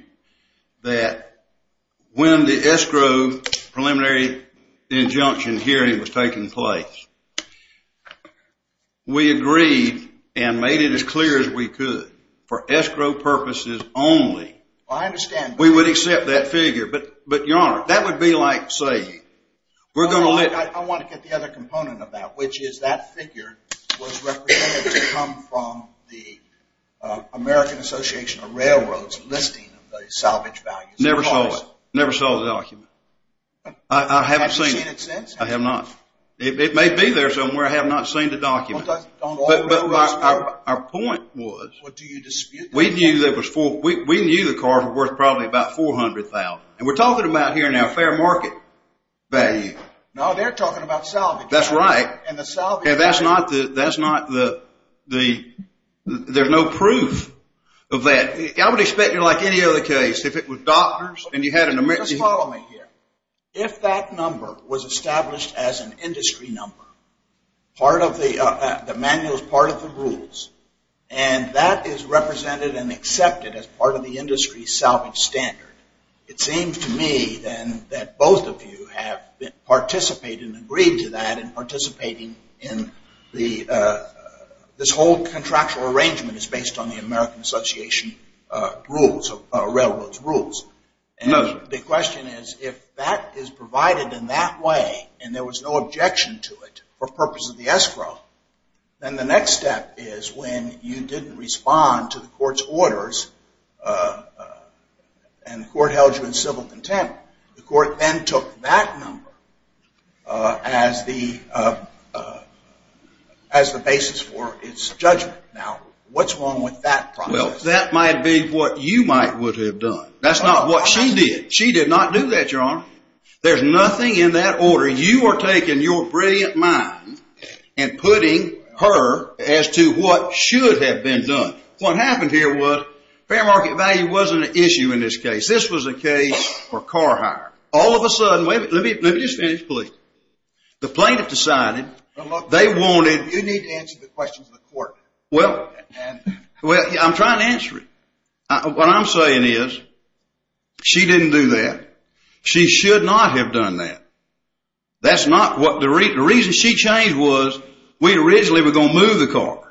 that when the escrow preliminary injunction hearing was taking place, we agreed and made it as clear as we could for escrow purposes only. I understand that. We would accept that figure. But, Your Honor, that would be like saying we're going to let— the American Association of Railroads listing the salvage value. Never saw it. Never saw the document. I haven't seen it. Have you seen it since? I have not. It may be there somewhere. I have not seen the document. But our point was we knew the car was worth probably about $400,000. And we're talking about here now fair market value. No, they're talking about salvage value. That's right. There's no proof of that. I would expect it like any other case. If it was doctors and you had an emergency— Just follow me here. If that number was established as an industry number, part of the manual is part of the rules, and that is represented and accepted as part of the industry salvage standard, it seems to me then that both of you have participated and agreed to that in participating in the—this whole contractual arrangement is based on the American Association rules, railroads rules. And the question is if that is provided in that way and there was no objection to it for purpose of the escrow, then the next step is when you didn't respond to the court's orders and the court held you in civil contempt, the court then took that number as the basis for its judgment. Now, what's wrong with that process? Well, that might be what you might would have done. That's not what she did. She did not do that, Your Honor. There's nothing in that order. You are taking your brilliant mind and putting her as to what should have been done. What happened here was fair market value wasn't an issue in this case. This was a case for car hire. All of a sudden—let me just finish, please. The plaintiff decided they wanted— You need to answer the questions of the court. Well, I'm trying to answer it. What I'm saying is she didn't do that. She should not have done that. That's not what—the reason she changed was we originally were going to move the cars.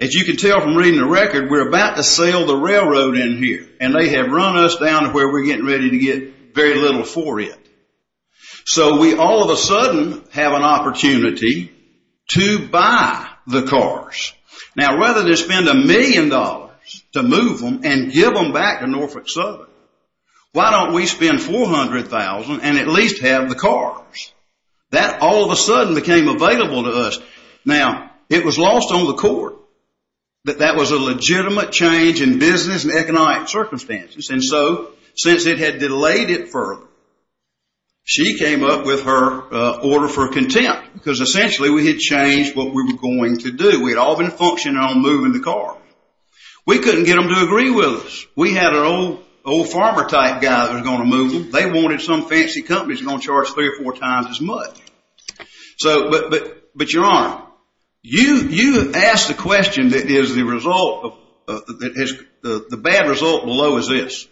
As you can tell from reading the record, we're about to sail the railroad in here, and they have run us down to where we're getting ready to get very little for it. So we all of a sudden have an opportunity to buy the cars. Now, rather than spend a million dollars to move them and give them back to Norfolk Southern, why don't we spend $400,000 and at least have the cars? That all of a sudden became available to us. Now, it was lost on the court that that was a legitimate change in business and economic circumstances. And so since it had delayed it further, she came up with her order for contempt because essentially we had changed what we were going to do. We had all been functioning on moving the car. We couldn't get them to agree with us. We had an old farmer-type guy that was going to move them. They wanted some fancy company that was going to charge three or four times as much. But you're on. You asked the question that is the bad result below is this.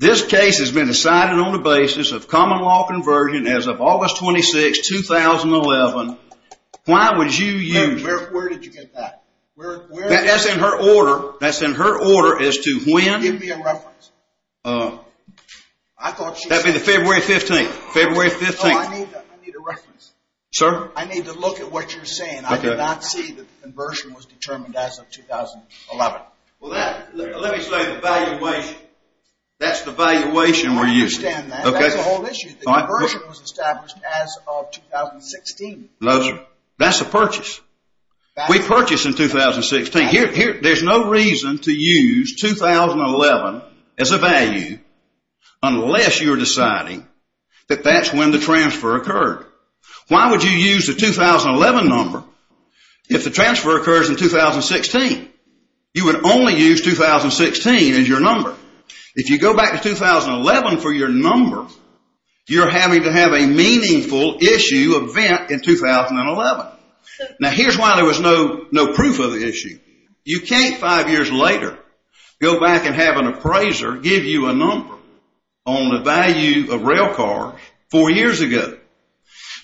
This case has been decided on the basis of common law conversion as of August 26, 2011. Why would you use it? Where did you get that? That's in her order. That's in her order as to when. Give me a reference. That would be February 15. I need a reference. Sir? I need to look at what you're saying. I did not see that the conversion was determined as of 2011. Well, let me say the valuation. That's the valuation we're using. I understand that. That's the whole issue. The conversion was established as of 2016. That's a purchase. We purchased in 2016. There's no reason to use 2011 as a value unless you're deciding that that's when the transfer occurred. Why would you use the 2011 number if the transfer occurs in 2016? You would only use 2016 as your number. If you go back to 2011 for your number, you're having to have a meaningful issue event in 2011. Now, here's why there was no proof of the issue. You can't, five years later, go back and have an appraiser give you a number on the value of rail cars four years ago.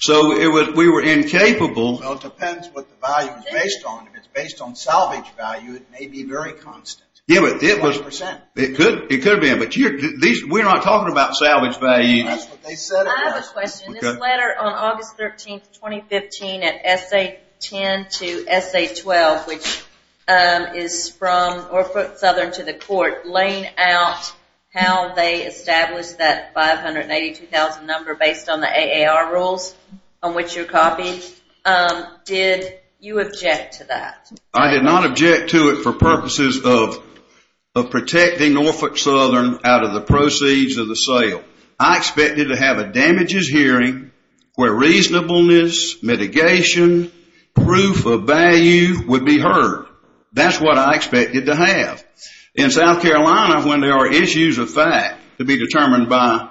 So, we were incapable. Well, it depends what the value is based on. If it's based on salvage value, it may be very constant. Yeah, but it could be. We're not talking about salvage value. That's what they said. I have a question. This letter on August 13, 2015, at SA-10 to SA-12, which is from Norfolk Southern to the court, laying out how they established that 582,000 number based on the AAR rules on which you're copying, did you object to that? I did not object to it for purposes of protecting Norfolk Southern out of the proceeds of the sale. I expected to have a damages hearing where reasonableness, mitigation, proof of value would be heard. That's what I expected to have. In South Carolina, when there are issues of fact to be determined by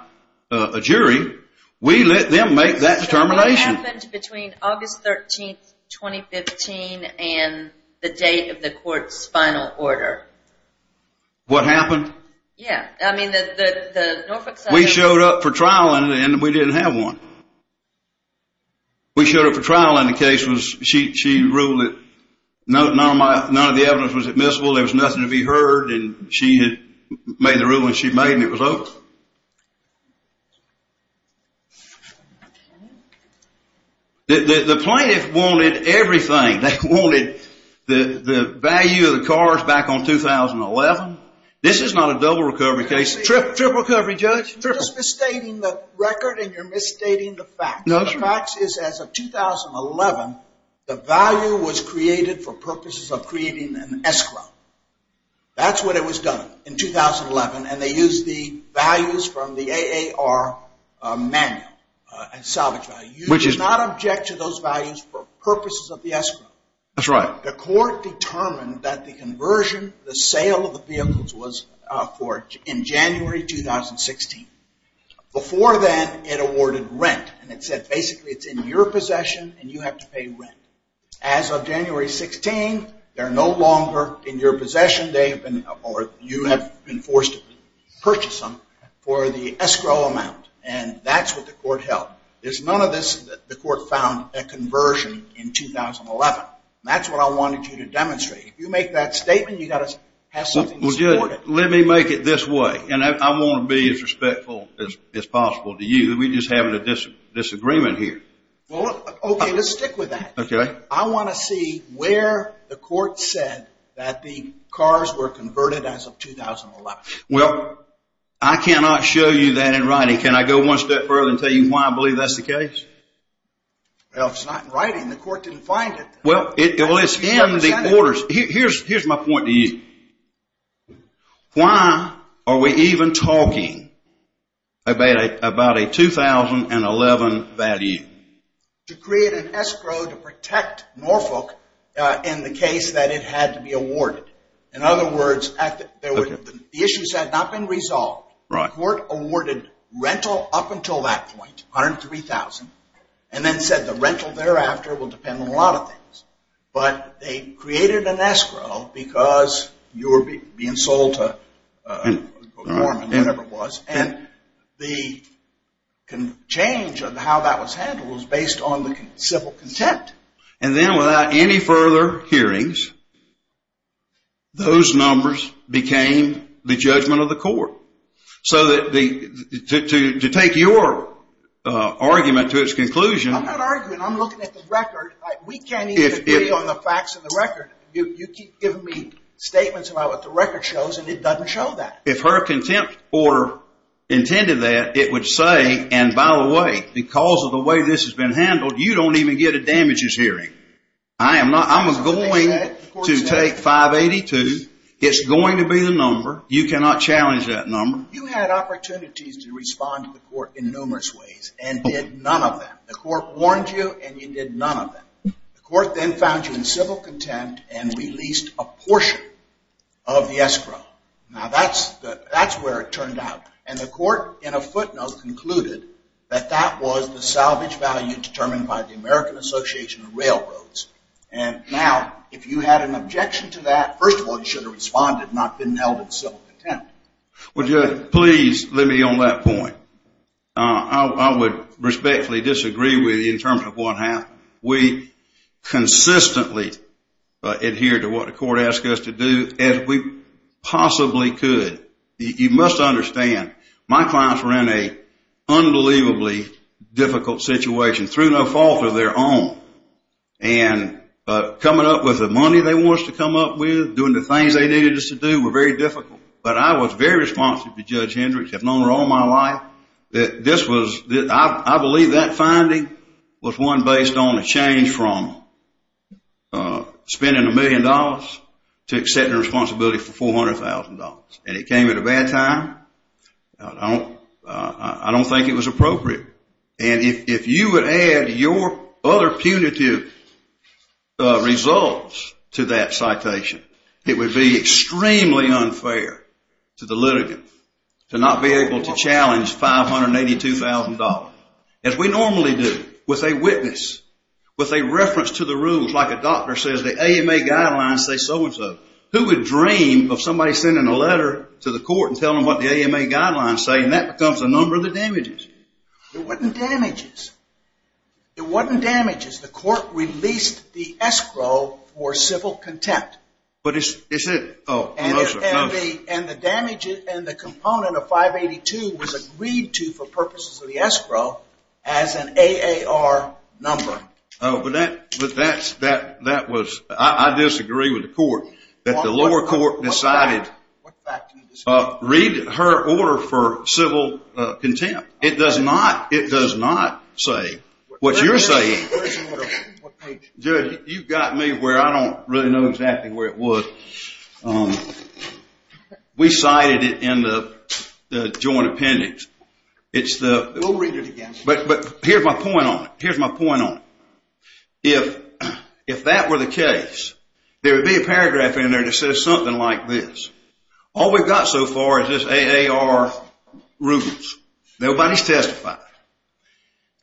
a jury, we let them make that determination. What happened between August 13, 2015, and the date of the court's final order? What happened? Yeah, I mean, the Norfolk Southern… We showed up for trial, and we didn't have one. We showed up for trial, and the case was she ruled that none of the evidence was admissible. There was nothing to be heard, and she had made the ruling she made, and it was over. The plaintiff wanted everything. They wanted the value of the cars back on 2011. This is not a double recovery case. Triple recovery, Judge. You're just misstating the record, and you're misstating the facts. No, that's right. The facts is as of 2011, the value was created for purposes of creating an escrow. That's what it was done in 2011, and they used the values from the AAR manual, salvage value. You did not object to those values for purposes of the escrow. That's right. The court determined that the conversion, the sale of the vehicles was in January 2016. Before then, it awarded rent, and it said basically it's in your possession, and you have to pay rent. As of January 16, they're no longer in your possession. You have been forced to purchase them for the escrow amount, and that's what the court held. There's none of this that the court found a conversion in 2011. That's what I wanted you to demonstrate. If you make that statement, you've got to have something to support it. Let me make it this way, and I want to be as respectful as possible to you. We're just having a disagreement here. Okay, let's stick with that. Okay. I want to see where the court said that the cars were converted as of 2011. Well, I cannot show you that in writing. Can I go one step further and tell you why I believe that's the case? Well, it's not in writing. The court didn't find it. Well, it's in the orders. Here's my point to you. Why are we even talking about a 2011 value? To create an escrow to protect Norfolk in the case that it had to be awarded. In other words, the issues had not been resolved. The court awarded rental up until that point, $103,000, and then said the rental thereafter will depend on a lot of things. But they created an escrow because you were being sold to a Mormon or whatever it was, and the change of how that was handled was based on the civil contempt. And then without any further hearings, those numbers became the judgment of the court. So to take your argument to its conclusion. I'm not arguing. I'm looking at the record. We can't even agree on the facts of the record. You keep giving me statements about what the record shows, and it doesn't show that. If her contempt order intended that, it would say, and by the way, because of the way this has been handled, you don't even get a damages hearing. I'm going to take 582. It's going to be the number. You cannot challenge that number. You had opportunities to respond to the court in numerous ways and did none of them. The court warned you and you did none of them. The court then found you in civil contempt and released a portion of the escrow. Now that's where it turned out. And the court, in a footnote, concluded that that was the salvage value determined by the American Association of Railroads. And now if you had an objection to that, first of all, you should have responded and not been held in civil contempt. Please let me on that point. I would respectfully disagree with you in terms of what happened. We consistently adhered to what the court asked us to do as we possibly could. You must understand, my clients were in an unbelievably difficult situation through no fault of their own. And coming up with the money they wanted to come up with, doing the things they needed us to do were very difficult. But I was very responsive to Judge Hendricks. I've known her all my life. I believe that finding was one based on a change from spending a million dollars to accepting responsibility for $400,000. And it came at a bad time. I don't think it was appropriate. And if you would add your other punitive results to that citation, it would be extremely unfair to the litigant to not be able to challenge $582,000. As we normally do with a witness, with a reference to the rules, like a doctor says, the AMA guidelines say so and so. Who would dream of somebody sending a letter to the court and telling them what the AMA guidelines say? And that becomes a number of the damages. It wasn't damages. It wasn't damages. The court released the escrow for civil contempt. But it's it. And the damages and the component of 582 was agreed to for purposes of the escrow as an AAR number. I disagree with the court that the lower court decided to read her order for civil contempt. It does not say what you're saying. Judge, you've got me where I don't really know exactly where it was. We cited it in the joint appendix. We'll read it again. But here's my point on it. Here's my point on it. If that were the case, there would be a paragraph in there that says something like this. All we've got so far is this AAR rules. Nobody's testified.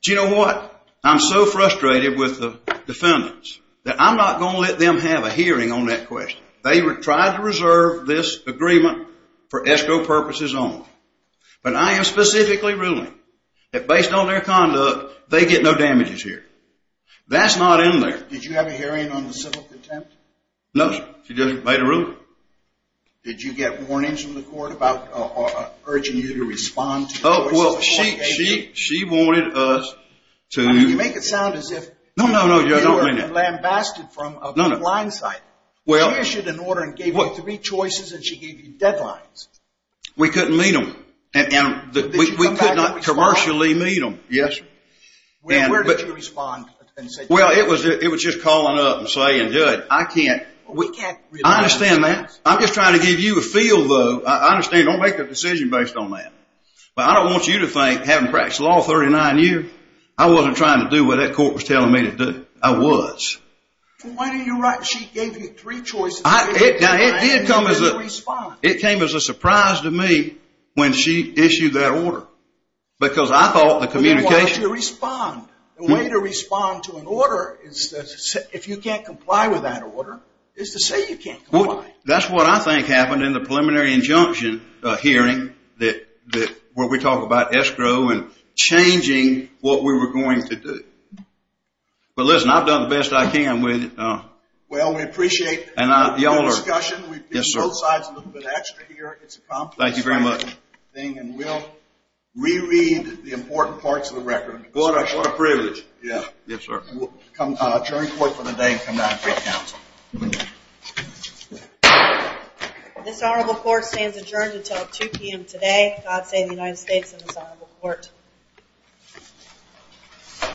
Do you know what? I'm so frustrated with the defendants that I'm not going to let them have a hearing on that question. They tried to reserve this agreement for escrow purposes only. But I am specifically ruling that based on their conduct, they get no damages here. That's not in there. Did you have a hearing on the civil contempt? No, sir. She just made a ruling. Did you get warnings from the court about urging you to respond to the choices the court gave you? Oh, well, she wanted us to. I mean, you make it sound as if you were lambasted from a blind side. She issued an order and gave you three choices and she gave you deadlines. We couldn't meet them. We could not commercially meet them. Yes, sir. Where did you respond? Well, it was just calling up and saying, good, I can't. I understand that. I'm just trying to give you a feel, though. I understand. Don't make a decision based on that. But I don't want you to think having practiced law for 39 years, I wasn't trying to do what that court was telling me to do. I was. Well, Wayne, you're right. She gave you three choices. Now, it came as a surprise to me when she issued that order because I thought the communication The way to respond to an order, if you can't comply with that order, is to say you can't comply. That's what I think happened in the preliminary injunction hearing where we talk about escrow and changing what we were going to do. But, listen, I've done the best I can with it. We've been both sides a little bit extra here. Thank you very much. And we'll reread the important parts of the record. What a privilege. Yes, sir. We'll adjourn court for the day and come back for counsel. This honorable court stands adjourned until 2 p.m. today. God save the United States and this honorable court.